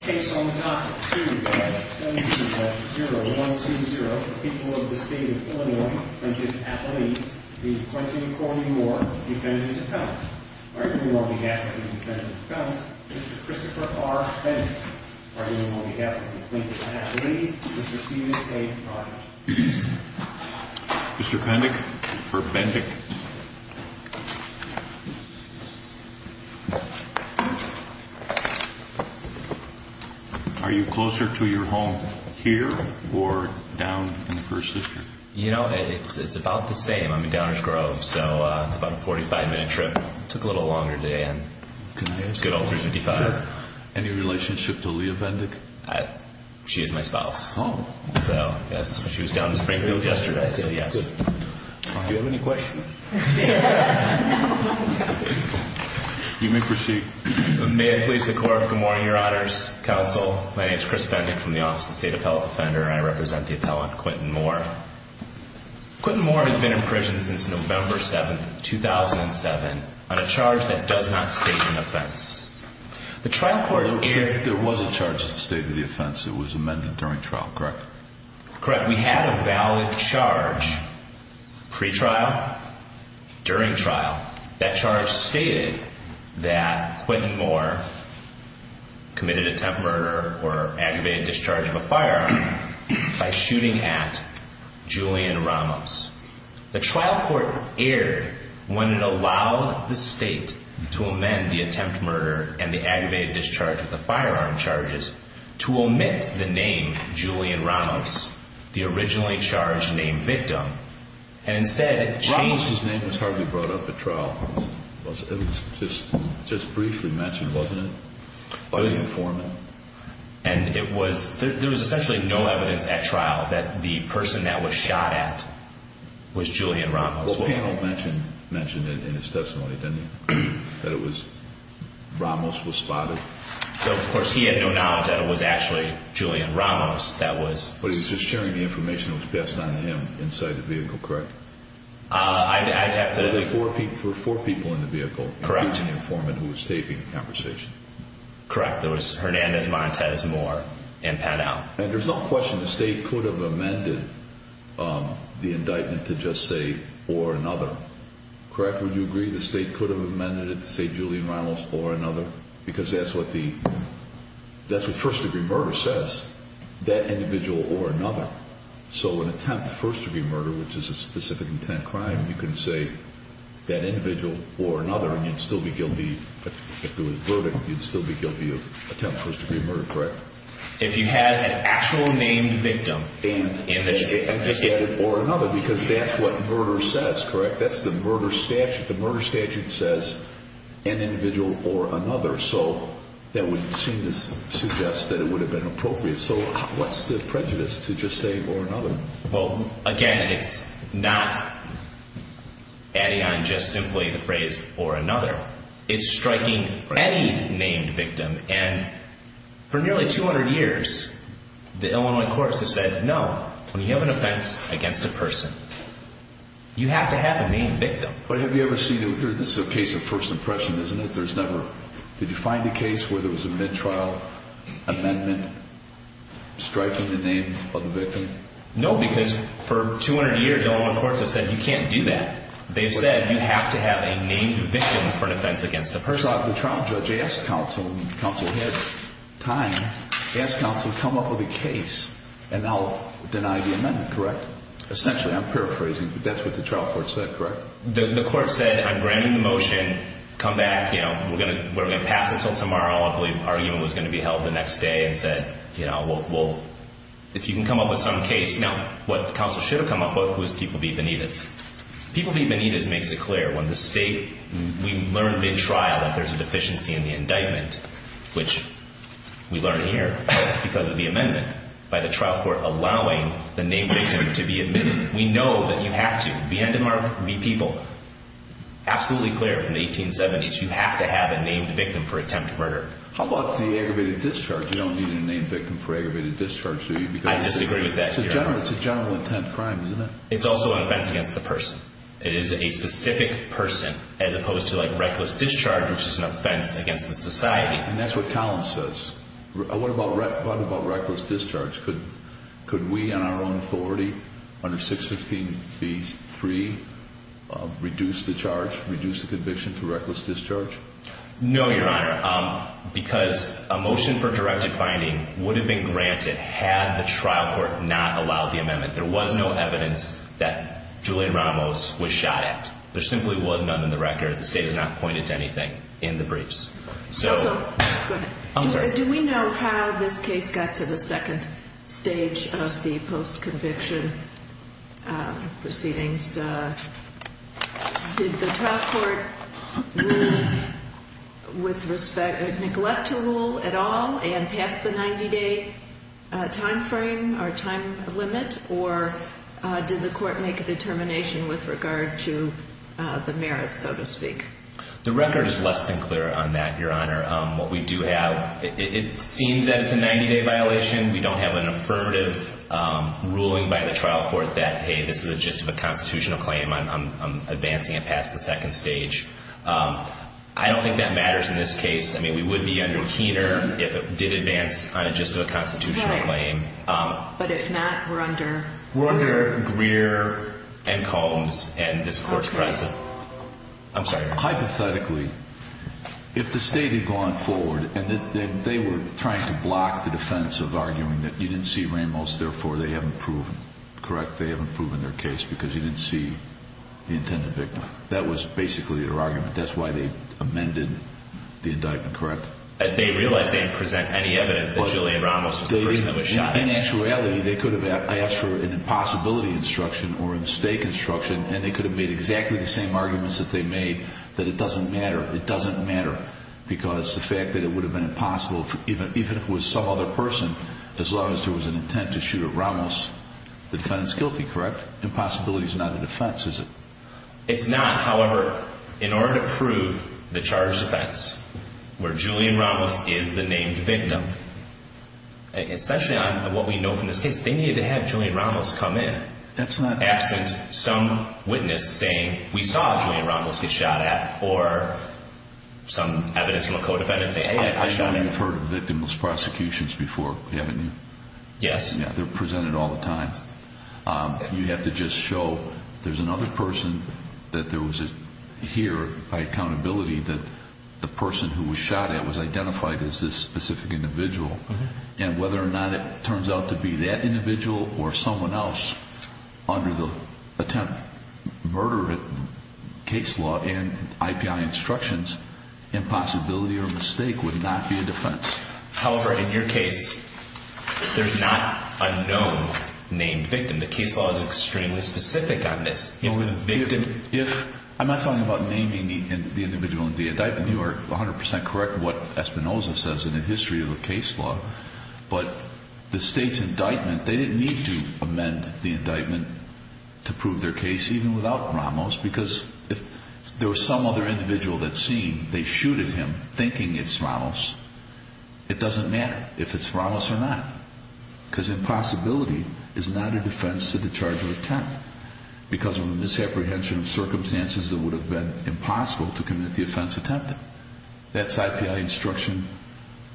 Case on the dot, 2-8-7-0-1-2-0, the people of the state of Illinois, which is at the lead, the Clinton-Cornyn-Moore Defendant and Counselor. Arguing on behalf of the Defendant and Counselor, Mr. Christopher R. Bendick. Arguing on behalf of the Clintons at the lead, Mr. Stephen K. Barnett. Mr. Bendick, for Bendick. Are you closer to your home here or down in the First District? You know, it's about the same. I'm in Downers Grove, so it's about a 45-minute trip. Took a little longer to get in. Good old 355. Any relationship to Leah Bendick? She is my spouse. Oh. So, yes. She was down in Springfield yesterday, so yes. Do you have any questions? You may proceed. May it please the Court, good morning, Your Honors, Counsel. My name is Chris Bendick from the Office of the State Appellate Defender, and I represent the appellant, Quinton Moore. Quinton Moore has been in prison since November 7th, 2007, on a charge that does not state an offense. The trial court aired... There was a charge that stated the offense. It was amended during trial, correct? Correct. We had a valid charge pre-trial, during trial. That charge stated that Quinton Moore committed attempt murder or aggravated discharge of a firearm by shooting at Julian Ramos. The trial court aired when it allowed the state to amend the attempt murder and the aggravated discharge of the firearm charges to omit the name Julian Ramos, the originally charged named victim. Ramos' name was hardly brought up at trial. It was just briefly mentioned, wasn't it? It was informed. And it was... there was essentially no evidence at trial that the person that was shot at was Julian Ramos. Well, the panel mentioned it in its testimony, didn't they? That it was... Ramos was spotted. Of course, he had no knowledge that it was actually Julian Ramos that was... But he was just sharing the information that was passed on to him inside the vehicle, correct? I'd have to... There were four people in the vehicle, including the informant who was taping the conversation. Correct. There was Hernandez, Montez, Moore, and Pannell. And there's no question the state could have amended the indictment to just say, or another, correct? Would you agree the state could have amended it to say Julian Ramos or another? Because that's what the... that's what first-degree murder says, that individual or another. So an attempt to first-degree murder, which is a specific intent crime, you can say that individual or another, and you'd still be guilty, if there was a verdict, you'd still be guilty of attempt to first-degree murder, correct? If you had an actual named victim in the... Or another, because that's what murder says, correct? That's the murder statute. The murder statute says an individual or another, so that would seem to suggest that it would have been appropriate. So what's the prejudice to just say, or another? Well, again, it's not adding on just simply the phrase, or another. It's striking any named victim, and for nearly 200 years, the Illinois courts have said, no, when you have an offense against a person, you have to have a named victim. But have you ever seen... this is a case of first impression, isn't it? There's never... did you find a case where there was a mid-trial amendment striking the name of the victim? No, because for 200 years, the Illinois courts have said, you can't do that. They've said, you have to have a named victim for an offense against a person. The trial judge asked counsel, and counsel had time, asked counsel, come up with a case, and now deny the amendment, correct? Essentially, I'm paraphrasing, but that's what the trial court said, correct? The court said, I'm granting the motion, come back, we're going to pass until tomorrow. I believe an argument was going to be held the next day, and said, if you can come up with some case. Now, what counsel should have come up with was people be Benitez. People be Benitez makes it clear. When the state... we learned mid-trial that there's a deficiency in the indictment, which we learn here because of the amendment by the trial court allowing the named victim to be admitted. We know that you have to, be end of mark, be people. Absolutely clear from the 1870s, you have to have a named victim for attempted murder. How about the aggravated discharge? You don't need a named victim for aggravated discharge, do you? I disagree with that. It's a general intent crime, isn't it? It's also an offense against the person. It is a specific person, as opposed to reckless discharge, which is an offense against the society. And that's what Collins says. What about reckless discharge? Could we, on our own authority, under 615B3, reduce the charge, reduce the conviction to reckless discharge? No, Your Honor, because a motion for directed finding would have been granted had the trial court not allowed the amendment. There was no evidence that Julian Ramos was shot at. There simply was none in the record. The state has not pointed to anything in the briefs. Do we know how this case got to the second stage of the post-conviction proceedings? Did the trial court rule with respect, neglect to rule at all and pass the 90-day time frame or time limit? Or did the court make a determination with regard to the merits, so to speak? The record is less than clear on that, Your Honor. What we do have, it seems that it's a 90-day violation. We don't have an affirmative ruling by the trial court that, hey, this is a gist of a constitutional claim. I'm advancing it past the second stage. I don't think that matters in this case. I mean, we would be under Keener if it did advance on a gist of a constitutional claim. But if not, we're under? We're under Greer and Combs, and this court's precedent. I'm sorry. Hypothetically, if the state had gone forward and they were trying to block the defense of arguing that you didn't see Ramos, therefore they haven't proven, correct, they haven't proven their case because you didn't see the intended victim, that was basically their argument. That's why they amended the indictment, correct? They realized they didn't present any evidence that Julian Ramos was the person that was shot. In actuality, they could have asked for an impossibility instruction or a mistake instruction, and they could have made exactly the same arguments that they made, that it doesn't matter. It doesn't matter because the fact that it would have been impossible, even if it was some other person, as long as there was an intent to shoot at Ramos, the defendant's guilty, correct? Impossibility's not a defense, is it? It's not. However, in order to prove the charged offense where Julian Ramos is the named victim, especially on what we know from this case, they needed to have Julian Ramos come in. That's not true. They could have absent some witness saying, we saw Julian Ramos get shot at, or some evidence from a co-defendant saying, hey, I shot him. I know you've heard of victimless prosecutions before, haven't you? Yes. Yeah, they're presented all the time. You have to just show there's another person that there was here by accountability that the person who was shot at was identified as this specific individual, and whether or not it turns out to be that individual or someone else under the attempted murder case law and IPI instructions, impossibility or mistake would not be a defense. However, in your case, there's not a known named victim. The case law is extremely specific on this. I'm not talking about naming the individual in the indictment. I know you are 100% correct in what Espinoza says in the history of the case law, but the State's indictment, they didn't need to amend the indictment to prove their case, even without Ramos, because if there was some other individual that's seen, they shooted him thinking it's Ramos. It doesn't matter if it's Ramos or not, because impossibility is not a defense to the charge of attempt because of the misapprehension of circumstances that would have been impossible to commit the offense attempted. That's IPI instruction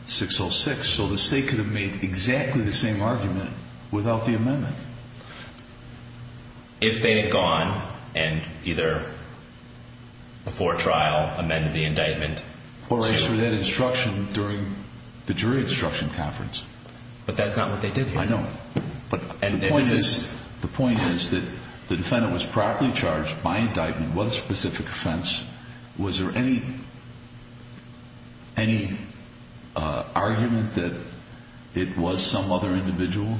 606, so the State could have made exactly the same argument without the amendment. If they had gone and either before trial amended the indictment to... Or answered that instruction during the jury instruction conference. But that's not what they did here. I know. The point is that the defendant was properly charged by indictment with a specific offense. Was there any argument that it was some other individual?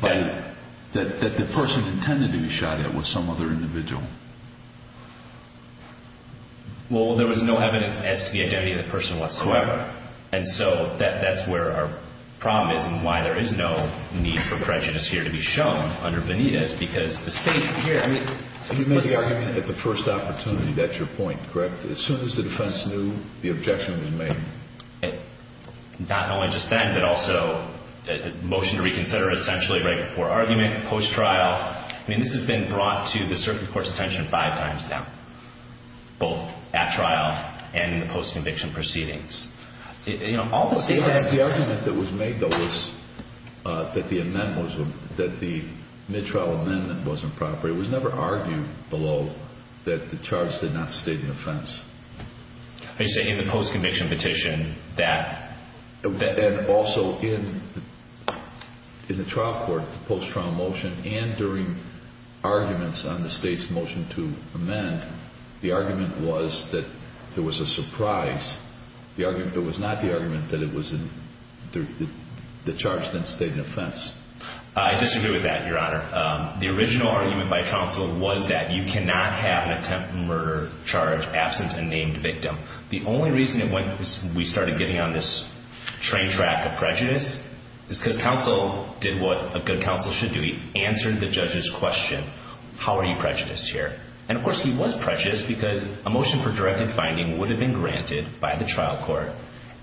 That the person intended to be shot at was some other individual? Well, there was no evidence as to the identity of the person whatsoever. And so that's where our problem is and why there is no need for prejudice here to be shown under Benitez, because the State here... You made the argument at the first opportunity. That's your point, correct? As soon as the defense knew, the objection was made. Not only just then, but also the motion to reconsider essentially right before argument, post-trial. I mean, this has been brought to the circuit court's attention five times now, both at trial and in the post-conviction proceedings. The argument that was made, though, was that the mid-trial amendment was improper. It was never argued below that the charge did not state an offense. Are you saying in the post-conviction petition that... And also in the trial court, the post-trial motion and during arguments on the State's motion to amend, the argument was that there was a surprise. There was not the argument that the charge didn't state an offense. I disagree with that, Your Honor. The original argument by counsel was that you cannot have an attempted murder charge absent a named victim. The only reason we started getting on this train track of prejudice is because counsel did what a good counsel should do. He answered the judge's question, how are you prejudiced here? And, of course, he was prejudiced because a motion for directed finding would have been granted by the trial court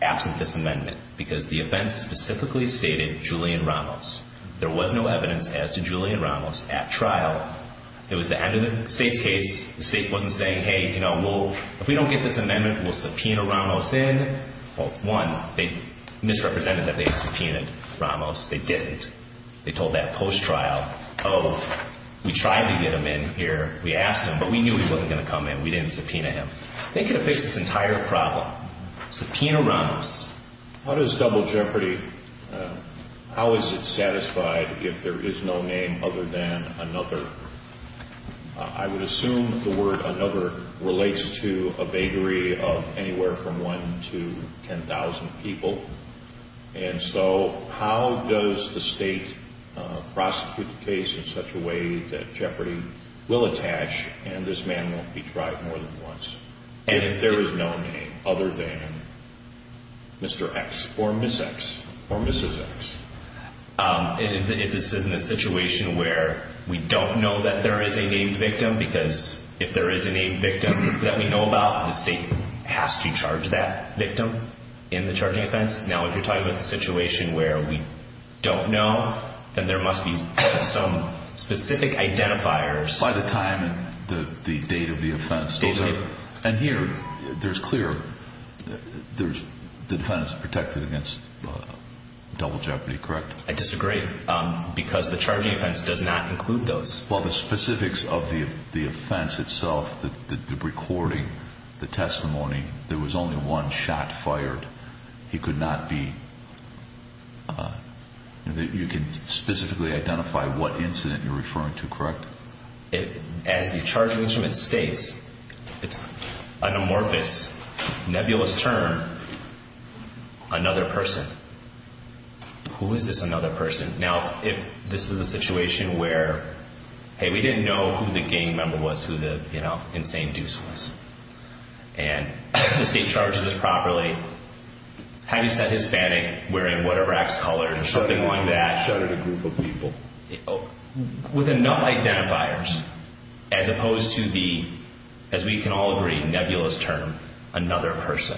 absent this amendment because the offense specifically stated Julian Ramos. There was no evidence as to Julian Ramos at trial. It was the end of the State's case. The State wasn't saying, hey, you know, if we don't get this amendment, we'll subpoena Ramos in. Well, one, they misrepresented that they had subpoenaed Ramos. They didn't. They told that post-trial of we tried to get him in here. We asked him, but we knew he wasn't going to come in. We didn't subpoena him. They could have fixed this entire problem. Subpoena Ramos. How does double jeopardy, how is it satisfied if there is no name other than another? I would assume the word another relates to a bakery of anywhere from 1 to 10,000 people. And so how does the State prosecute the case in such a way that jeopardy will attach and this man won't be tried more than once if there is no name other than Mr. X or Ms. X or Mrs. X? If this is in a situation where we don't know that there is a named victim because if there is a named victim that we know about, the State has to charge that victim in the charging offense. Now, if you're talking about the situation where we don't know, then there must be some specific identifiers. By the time, the date of the offense. Date of the offense. And here, there's clear, the defendant's protected against double jeopardy, correct? I disagree because the charging offense does not include those. Well, the specifics of the offense itself, the recording, the testimony, there was only one shot fired. He could not be, you can specifically identify what incident you're referring to, correct? As the charging instrument states, it's an amorphous, nebulous term, another person. Who is this another person? Now, if this was a situation where, hey, we didn't know who the gang member was, who the, you know, insane deuce was, and the State charges this properly, having said Hispanic, wearing whatever X color, something along that. Shot at a group of people. With enough identifiers as opposed to the, as we can all agree, nebulous term, another person.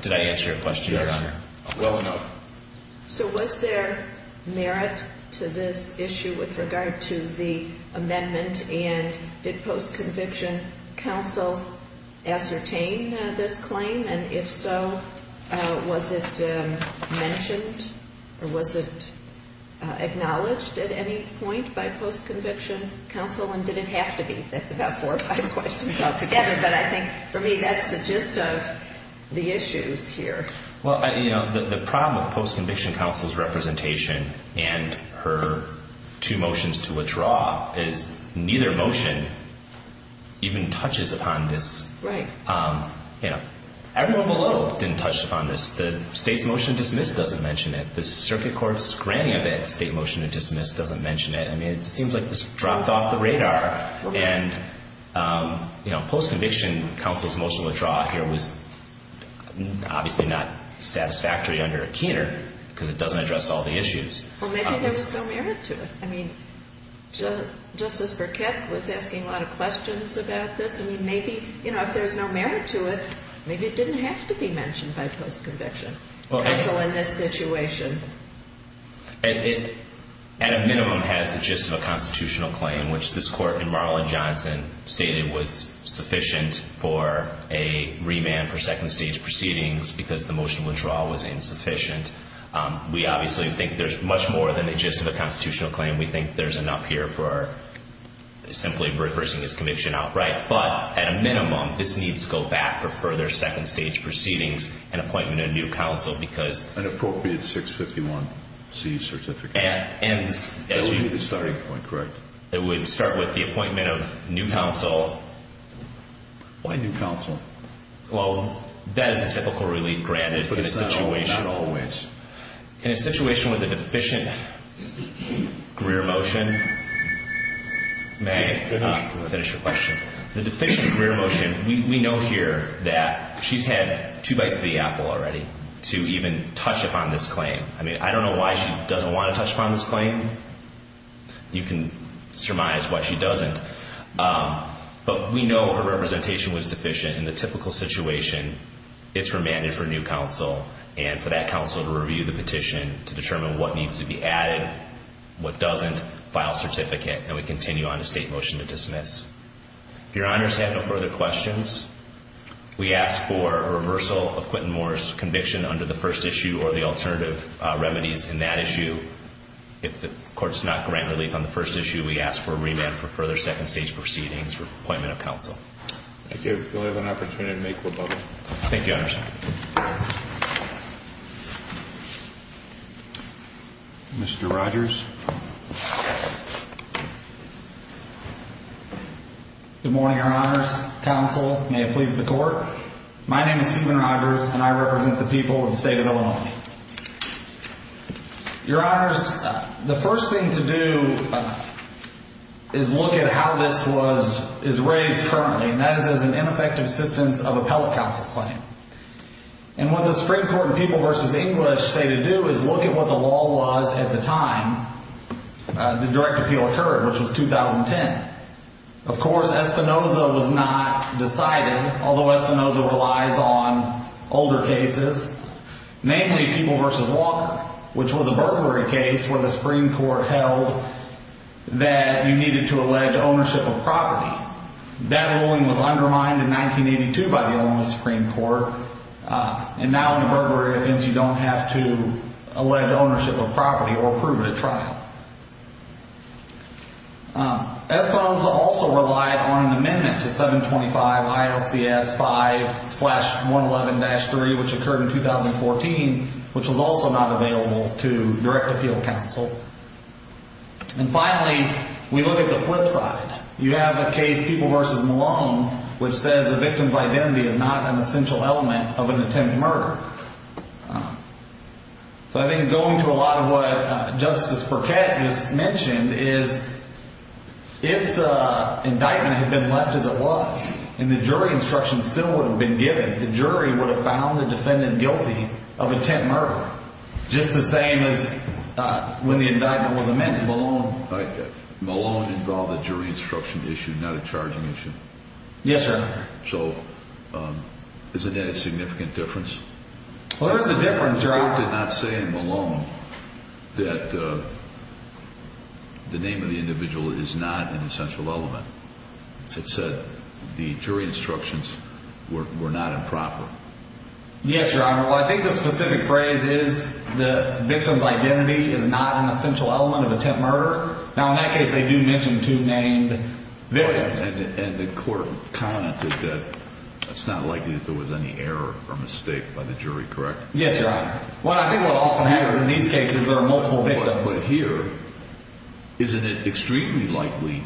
Did I answer your question, Your Honor? Well enough. So was there merit to this issue with regard to the amendment? And did post-conviction counsel ascertain this claim? And if so, was it mentioned or was it acknowledged at any point by post-conviction counsel? And did it have to be? That's about four or five questions all together, but I think for me that's the gist of the issues here. Well, you know, the problem with post-conviction counsel's representation and her two motions to withdraw is neither motion even touches upon this. Right. You know, everyone below didn't touch upon this. The State's motion to dismiss doesn't mention it. The circuit court's granting of it, State motion to dismiss, doesn't mention it. I mean, it seems like this dropped off the radar. And, you know, post-conviction counsel's motion to withdraw here was obviously not satisfactory under a keener because it doesn't address all the issues. Well, maybe there was no merit to it. I mean, Justice Burkett was asking a lot of questions about this. I mean, maybe, you know, if there's no merit to it, maybe it didn't have to be mentioned by post-conviction counsel in this situation. It, at a minimum, has the gist of a constitutional claim, which this Court in Marlin-Johnson stated was sufficient for a remand for second-stage proceedings because the motion withdrawal was insufficient. We obviously think there's much more than the gist of a constitutional claim. We think there's enough here for simply reversing his conviction outright. But, at a minimum, this needs to go back for further second-stage proceedings and appointment of new counsel because— An appropriate 651C certificate. That would be the starting point, correct? It would start with the appointment of new counsel. Why new counsel? Well, that is a typical relief granted in a situation— But it's not always. In a situation with a deficient career motion, may— Finish your question. The deficient career motion, we know here that she's had two bites of the apple already to even touch upon this claim. I mean, I don't know why she doesn't want to touch upon this claim. You can surmise why she doesn't. But we know her representation was deficient. In the typical situation, it's remanded for new counsel and for that counsel to review the petition to determine what needs to be added, what doesn't, file certificate, and we continue on to state motion to dismiss. If Your Honors have no further questions, we ask for a reversal of Quentin Moore's conviction under the first issue or the alternative remedies in that issue. If the court does not grant relief on the first issue, we ask for a remand for further second-stage proceedings or appointment of counsel. Thank you. If you'll have an opportunity to make your vote. Thank you, Your Honors. Mr. Rogers? Good morning, Your Honors. Counsel, may it please the court. My name is Stephen Rogers, and I represent the people of the state of Illinois. Your Honors, the first thing to do is look at how this was raised currently, and that is as an ineffective assistance of appellate counsel claim. And what the Supreme Court and People v. English say to do is look at what the law was at the time the direct appeal occurred, which was 2010. Of course, Espinoza was not decided, although Espinoza relies on older cases, namely People v. Walker, which was a burglary case where the Supreme Court held that you needed to allege ownership of property. That ruling was undermined in 1982 by the Illinois Supreme Court, and now in a burglary offense you don't have to allege ownership of property or approve it at trial. Espinoza also relied on an amendment to 725 ILCS 5-111-3, which occurred in 2014, which was also not available to direct appeal counsel. And finally, we look at the flip side. You have a case, People v. Malone, which says the victim's identity is not an essential element of an attempted murder. So I think going to a lot of what Justice Burkett just mentioned is if the indictment had been left as it was and the jury instruction still would have been given, the jury would have found the defendant guilty of attempted murder, just the same as when the indictment was amended. Malone involved a jury instruction issue, not a charging issue. Yes, Your Honor. So isn't that a significant difference? Well, there is a difference, Your Honor. The court did not say in Malone that the name of the individual is not an essential element. It said the jury instructions were not improper. Yes, Your Honor. Well, I think the specific phrase is the victim's identity is not an essential element of attempted murder. Now, in that case, they do mention two named victims. And the court commented that it's not likely that there was any error or mistake by the jury, correct? Yes, Your Honor. Well, I think what often happens in these cases, there are multiple victims. But here, isn't it extremely likely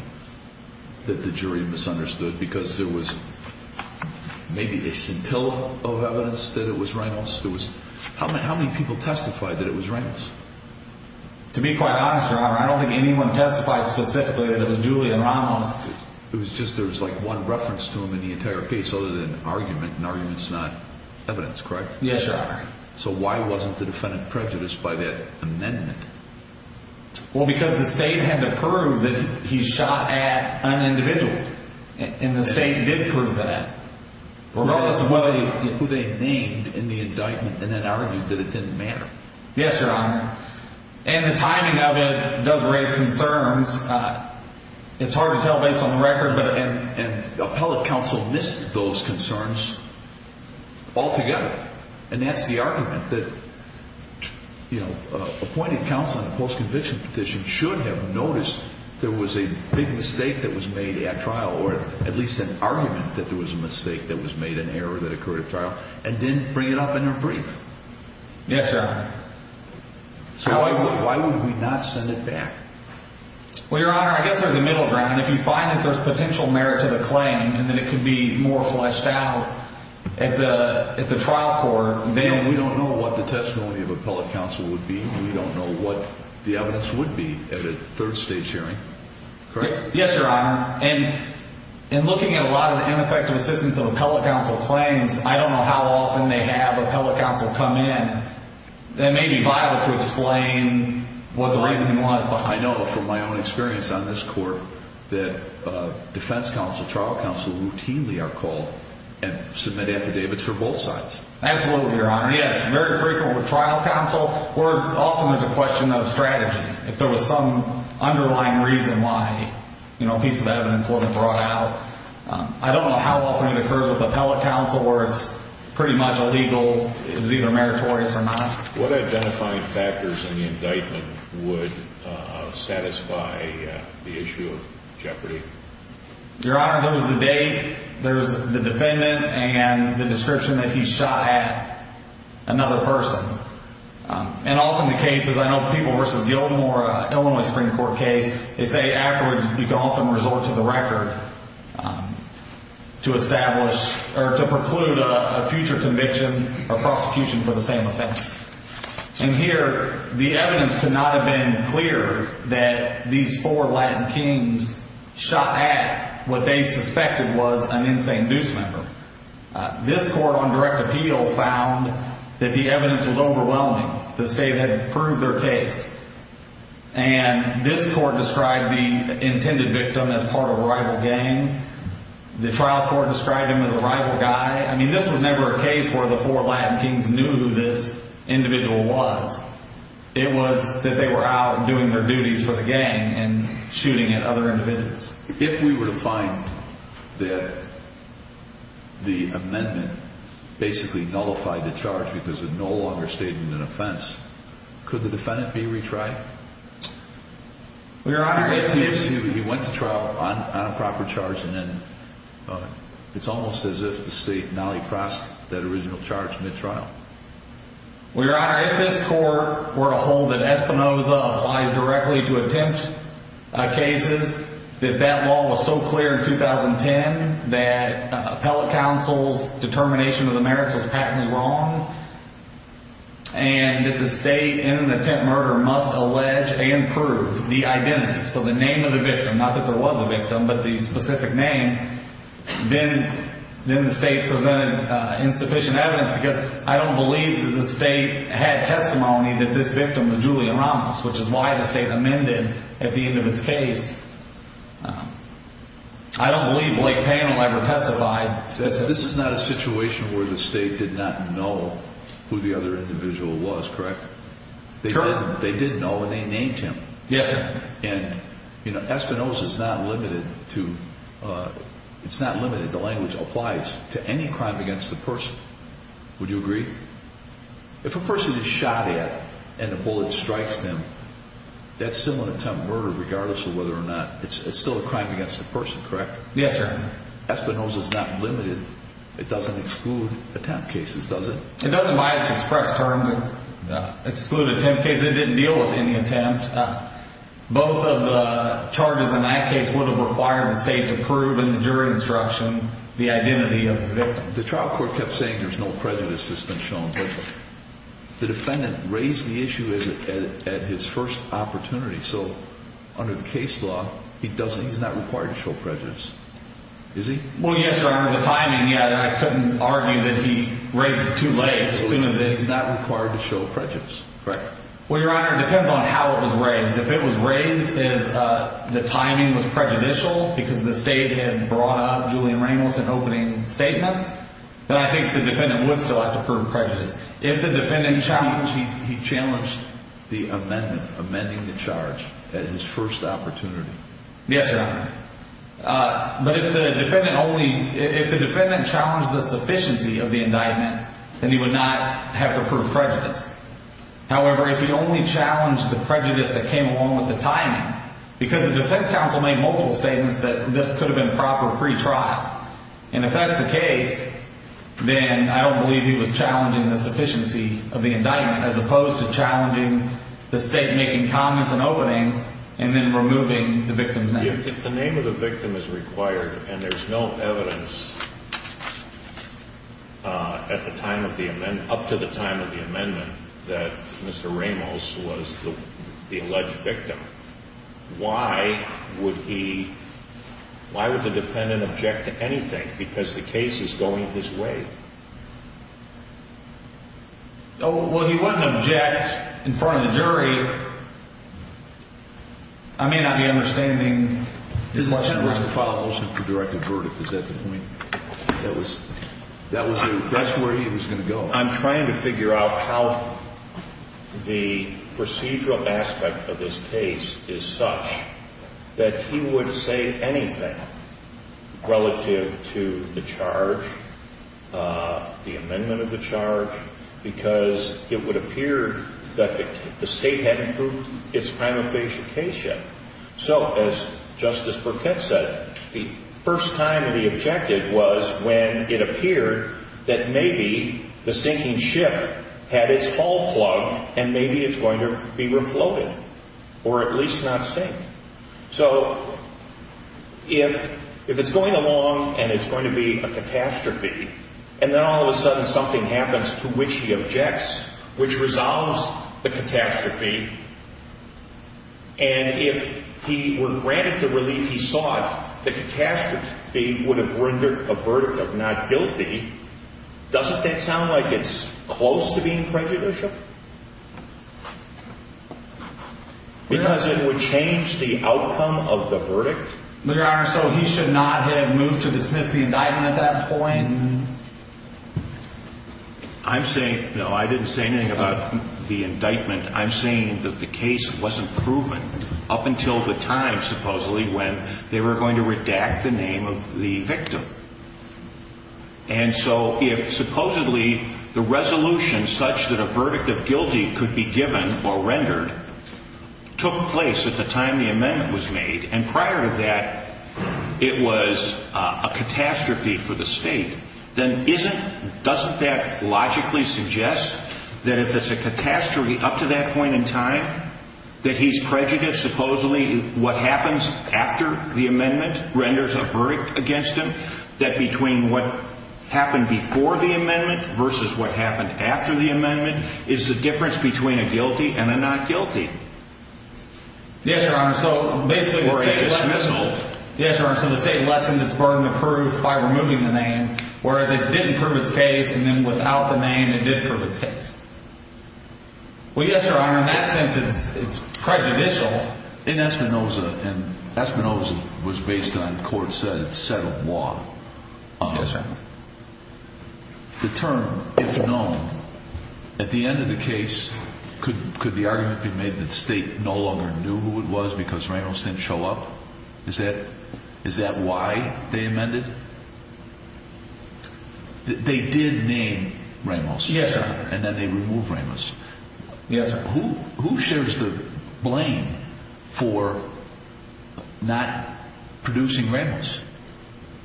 that the jury misunderstood because there was maybe a scintilla of evidence that it was Ramos? How many people testified that it was Ramos? To be quite honest, Your Honor, I don't think anyone testified specifically that it was Julian Ramos. It was just there was like one reference to him in the entire case other than argument, and argument's not evidence, correct? Yes, Your Honor. So why wasn't the defendant prejudiced by that amendment? Well, because the state had to prove that he shot at an individual. And the state did prove that. Ramos was who they named in the indictment and then argued that it didn't matter. Yes, Your Honor. And the timing of it does raise concerns. It's hard to tell based on the record, but an appellate counsel missed those concerns altogether. And that's the argument that, you know, appointed counsel in a post-conviction petition should have noticed there was a big mistake that was made at trial, or at least an argument that there was a mistake that was made, an error that occurred at trial, and didn't bring it up in their brief. Yes, Your Honor. So why would we not send it back? Well, Your Honor, I guess there's a middle ground. If you find that there's potential merit to the claim and that it could be more fleshed out at the trial court, then we don't know what the testimony of appellate counsel would be. We don't know what the evidence would be at a third-stage hearing, correct? Yes, Your Honor. And in looking at a lot of ineffective assistance of appellate counsel claims, I don't know how often they have appellate counsel come in. That may be vital to explain what the reasoning was. Well, I know from my own experience on this court that defense counsel, trial counsel routinely are called and submit affidavits for both sides. Absolutely, Your Honor. Yes, very frequently with trial counsel where often there's a question of strategy. If there was some underlying reason why, you know, a piece of evidence wasn't brought out, I don't know how often it occurs with appellate counsel where it's pretty much illegal. It was either meritorious or not. What identifying factors in the indictment would satisfy the issue of jeopardy? Your Honor, there was the date, there was the defendant, and the description that he shot at another person. And often the cases, I know people versus Gilmore, Illinois Supreme Court case, they say afterwards you can often resort to the record to establish or to preclude a future conviction or prosecution for the same offense. And here the evidence could not have been clearer that these four Latin kings shot at what they suspected was an insane deuce member. This court on direct appeal found that the evidence was overwhelming. The state had proved their case. And this court described the intended victim as part of a rival gang. The trial court described him as a rival guy. I mean, this was never a case where the four Latin kings knew who this individual was. It was that they were out doing their duties for the gang and shooting at other individuals. If we were to find that the amendment basically nullified the charge because it no longer stated an offense, could the defendant be retried? Your Honor, if he is... He went to trial on a proper charge and then it's almost as if the state nally-crossed that original charge mid-trial. Well, Your Honor, if this court were to hold that Espinoza applies directly to attempt cases, that that law was so clear in 2010 that appellate counsel's determination of the merits was patently wrong, and that the state in the attempt murder must allege and prove the identity, so the name of the victim, not that there was a victim, but the specific name, then the state presented insufficient evidence because I don't believe that the state had testimony that this victim was Julian Ramos, which is why the state amended at the end of his case. I don't believe Blake Payne will ever testify. This is not a situation where the state did not know who the other individual was, correct? They didn't know and they named him. Yes, sir. And, you know, Espinoza's not limited to... It's not limited. The language applies to any crime against the person. Would you agree? If a person is shot at and a bullet strikes them, that's still an attempt murder regardless of whether or not... It's still a crime against the person, correct? Yes, sir. Espinoza's not limited. It doesn't exclude attempt cases, does it? It doesn't by its express terms exclude attempt cases. It didn't deal with any attempt. Both of the charges in that case would have required the state to prove in the jury instruction the identity of the victim. The trial court kept saying there's no prejudice that's been shown, but the defendant raised the issue at his first opportunity. So under the case law, he's not required to show prejudice, is he? Well, yes, Your Honor. The timing, yeah, I couldn't argue that he raised it too late. So he's not required to show prejudice, correct? Well, Your Honor, it depends on how it was raised. If it was raised as the timing was prejudicial because the state had brought up Julian Ramos in opening statements, then I think the defendant would still have to prove prejudice. If the defendant challenged... He challenged the amendment, amending the charge at his first opportunity. Yes, Your Honor. But if the defendant only... If the defendant challenged the sufficiency of the indictment, then he would not have to prove prejudice. However, if he only challenged the prejudice that came along with the timing, because the defense counsel made multiple statements that this could have been proper pretrial, and if that's the case, then I don't believe he was challenging the sufficiency of the indictment as opposed to challenging the state making comments in opening and then removing the victim's name. If the name of the victim is required and there's no evidence up to the time of the amendment that Mr. Ramos was the alleged victim, why would he... Why would the defendant object to anything because the case is going his way? Well, he wouldn't object in front of the jury. I may not be understanding... His intent was to file a motion for directed verdict. Is that the point? That was the... That's where he was going to go. I'm trying to figure out how the procedural aspect of this case is such that he would say anything relative to the charge, the amendment of the charge, because it would appear that the state hadn't proved its prima facie case yet. So, as Justice Burkett said, the first time that he objected was when it appeared that maybe the sinking ship had its hull plugged and maybe it's going to be refloated or at least not sink. So, if it's going along and it's going to be a catastrophe and then all of a sudden something happens to which he objects, which resolves the catastrophe, and if he were granted the relief he sought, the catastrophe would have rendered a verdict of not guilty, doesn't that sound like it's close to being prejudicial? Because it would change the outcome of the verdict? Your Honor, so he should not have moved to dismiss the indictment at that point? I'm saying... No, I didn't say anything about the indictment. I'm saying that the case wasn't proven up until the time, supposedly, when they were going to redact the name of the victim. And so if supposedly the resolution such that a verdict of guilty could be given or rendered took place at the time the amendment was made and prior to that it was a catastrophe for the state, then doesn't that logically suggest that if it's a catastrophe up to that point in time that he's prejudiced, supposedly what happens after the amendment renders a verdict against him, that between what happened before the amendment versus what happened after the amendment is the difference between a guilty and a not guilty? Yes, Your Honor, so basically... Or a dismissal. Yes, Your Honor, so the state lessened its burden of proof by removing the name, whereas it didn't prove its case and then without the name it did prove its case. Well, yes, Your Honor, in that sense it's prejudicial. In Espinosa, and Espinosa was based on court said, it's settled law. Yes, Your Honor. The term, if known, at the end of the case could the argument be made that the state no longer knew who it was because Ramos didn't show up? Is that why they amended? They did name Ramos. Yes, Your Honor. And then they removed Ramos. Yes, Your Honor. Who shares the blame for not producing Ramos?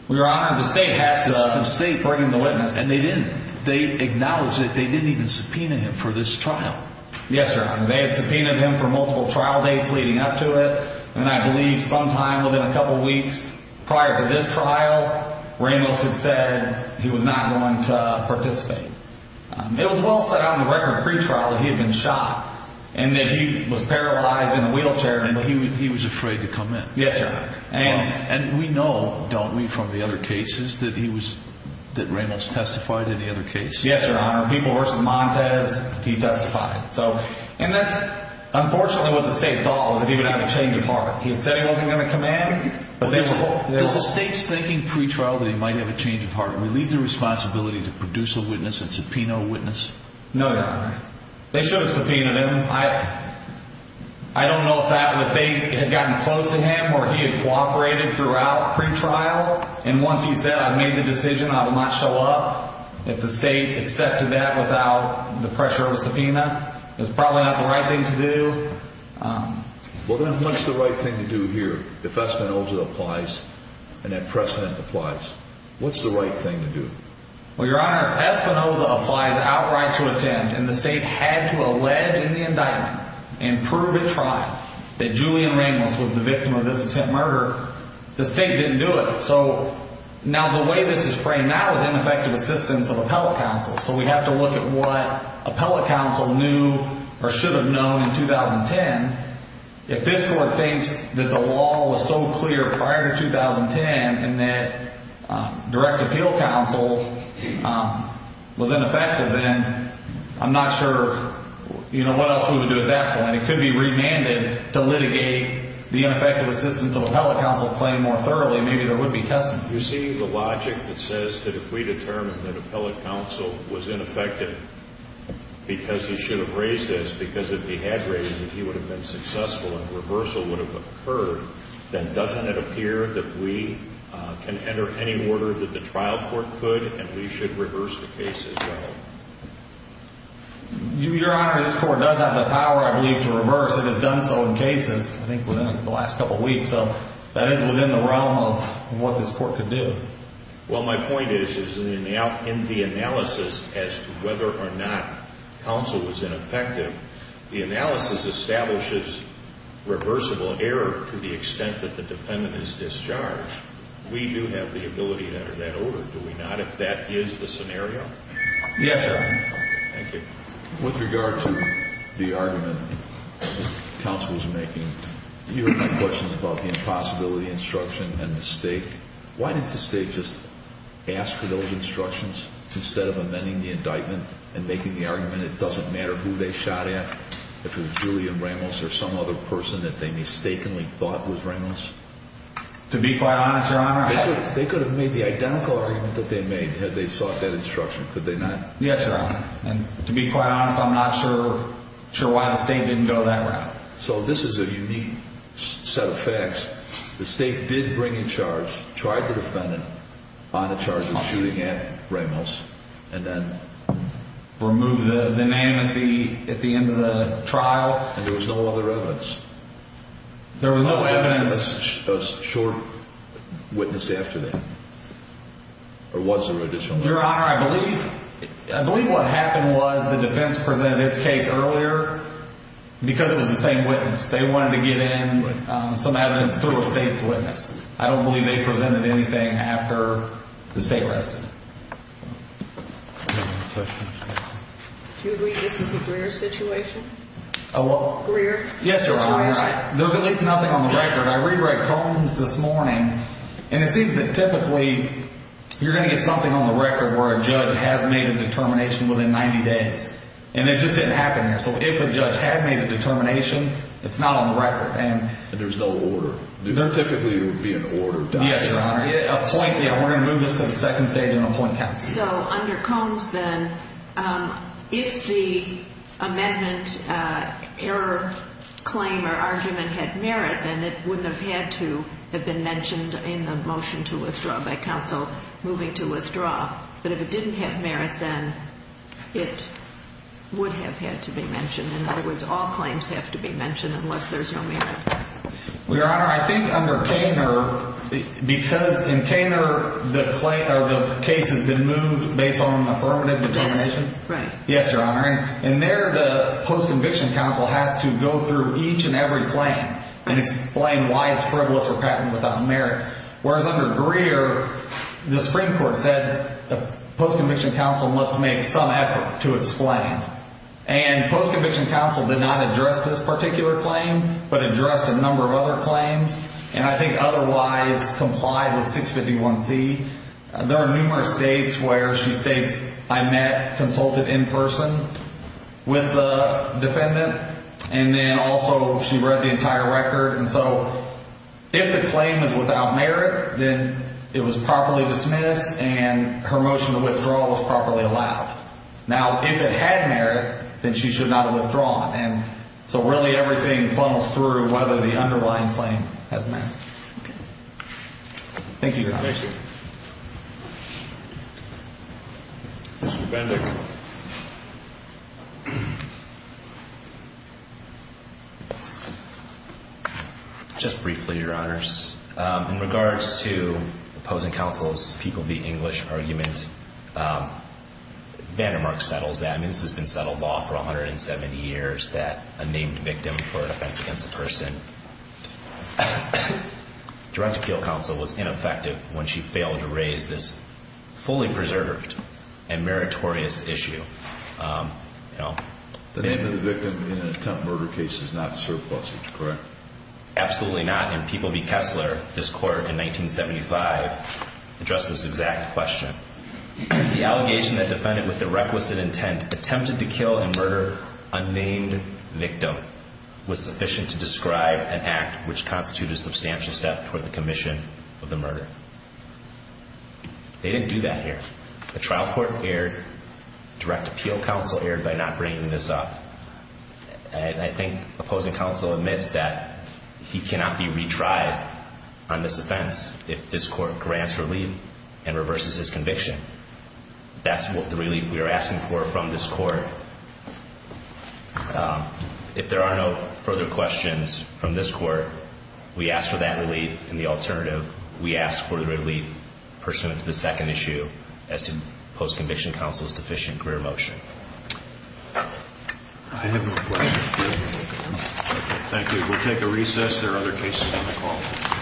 Well, Your Honor, the state has to... The state burdened the witness. And they didn't, they acknowledged it, they didn't even subpoena him for this trial. Yes, Your Honor, they had subpoenaed him for multiple trial dates leading up to it and I believe sometime within a couple weeks prior to this trial, Ramos had said he was not going to participate. It was well set on the record pre-trial that he had been shot and that he was paralyzed in a wheelchair and he was afraid to come in. Yes, Your Honor. And we know, don't we, from the other cases that he was, that Ramos testified in the other cases? Yes, Your Honor. People versus Montez, he testified. So, and that's unfortunately what the state thought was that he would have a change of heart. He had said he wasn't going to come in. Does the state's thinking pre-trial that he might have a change of heart relieve the responsibility to produce a witness and subpoena a witness? No, Your Honor. They should have subpoenaed him. I don't know if they had gotten close to him or he had cooperated throughout pre-trial and once he said, I made the decision, I will not show up. If the state accepted that without the pressure of a subpoena, it was probably not the right thing to do. Well, then what's the right thing to do here if Espinoza applies and that precedent applies? What's the right thing to do? Well, Your Honor, if Espinoza applies outright to attempt and the state had to allege in the indictment and prove at trial that Julian Ramos was the victim of this attempt murder, the state didn't do it. So, now the way this is framed now is ineffective assistance of appellate counsel. So, we have to look at what appellate counsel knew or should have known in 2010. If this Court thinks that the law was so clear prior to 2010 and that direct appeal counsel was ineffective then, I'm not sure what else we would do at that point. It could be remanded to litigate the ineffective assistance of appellate counsel claim more thoroughly. Maybe there would be testimony. Your Honor, you see the logic that says that if we determine that appellate counsel was ineffective because he should have raised this, because it dehydrated that he would have been successful and reversal would have occurred, then doesn't it appear that we can enter any order that the trial court could and we should reverse the case as well? Your Honor, this Court does have the power, I believe, to reverse. It has done so in cases, I think, within the last couple of weeks. So, that is within the realm of what this Court could do. Well, my point is in the analysis as to whether or not counsel was ineffective, the analysis establishes reversible error to the extent that the defendant is discharged. We do have the ability to enter that order, do we not, if that is the scenario? Yes, Your Honor. Thank you. With regard to the argument counsel was making, you have made questions about the impossibility instruction and mistake. Why didn't the State just ask for those instructions instead of amending the indictment and making the argument it doesn't matter who they shot at, if it was Julian Ramos or some other person that they mistakenly thought was Ramos? To be quite honest, Your Honor, I... They could have made the identical argument that they made had they sought that instruction, could they not? Yes, Your Honor. And to be quite honest, I'm not sure why the State didn't go that route. So, this is a unique set of facts. The State did bring in charge, tried the defendant on the charge of shooting at Ramos and then removed the name at the end of the trial. And there was no other evidence? There was no evidence. A short witness after that? Or was there additional evidence? Your Honor, I believe... I believe what happened was the defense presented its case earlier because it was the same witness. They wanted to get in some evidence to a State witness. I don't believe they presented anything after the State arrested them. Do you agree this is a Greer situation? A what? Greer situation. Yes, Your Honor. There's at least nothing on the record. I re-read Combs this morning, and it seems that typically you're going to get something on the record where a judge has made a determination within 90 days. And it just didn't happen there. So, if a judge had made a determination, it's not on the record. There's no order. There typically would be an order. Yes, Your Honor. We're going to move this to the second stage and appoint counsel. So, under Combs, then, if the amendment error claim or argument had merit, then it wouldn't have had to have been mentioned in the motion to withdraw by counsel moving to withdraw. But if it didn't have merit, then it would have had to be mentioned. In other words, all claims have to be mentioned unless there's no merit. Well, Your Honor, I think under Koehner, because in Koehner the case has been moved based on affirmative determination. Yes, right. Yes, Your Honor. And there the post-conviction counsel has to go through each and every claim and explain why it's frivolous or patent without merit. Whereas under Greer, the Supreme Court said the post-conviction counsel must make some effort to explain. And post-conviction counsel did not address this particular claim but addressed a number of other claims and I think otherwise complied with 651C. There are numerous states where she states, I met, consulted in person with the defendant. And then also she read the entire record. And so if the claim is without merit, then it was properly dismissed and her motion to withdraw was properly allowed. Now, if it had merit, then she should not have withdrawn. And so really everything funnels through whether the underlying claim has merit. Thank you, Your Honor. Thank you. Mr. Bendick. Just briefly, Your Honors. In regards to opposing counsel's People v. English argument, Vandermark settles that. I mean, this has been settled law for 170 years that a named victim for an offense against a person directed appeal counsel was ineffective when she failed to raise this fully preserved and meritorious issue. The name of the victim in an attempt murder case is not surplusage, correct? Absolutely not. And People v. Kessler, this court in 1975, addressed this exact question. The allegation that defendant with the requisite intent attempted to kill and murder unnamed victim was sufficient to describe an act which constituted a substantial step toward the commission of the murder. They didn't do that here. The trial court erred, direct appeal counsel erred by not bringing this up. And I think opposing counsel admits that he cannot be retried on this offense if this court grants relief and reverses his conviction. That's what the relief we are asking for from this court. If there are no further questions from this court, we ask for that relief. And the alternative, we ask for the relief pursuant to the second issue as to opposing conviction counsel's deficient career motion. I have no questions. Thank you. We'll take a recess. There are other cases on the call.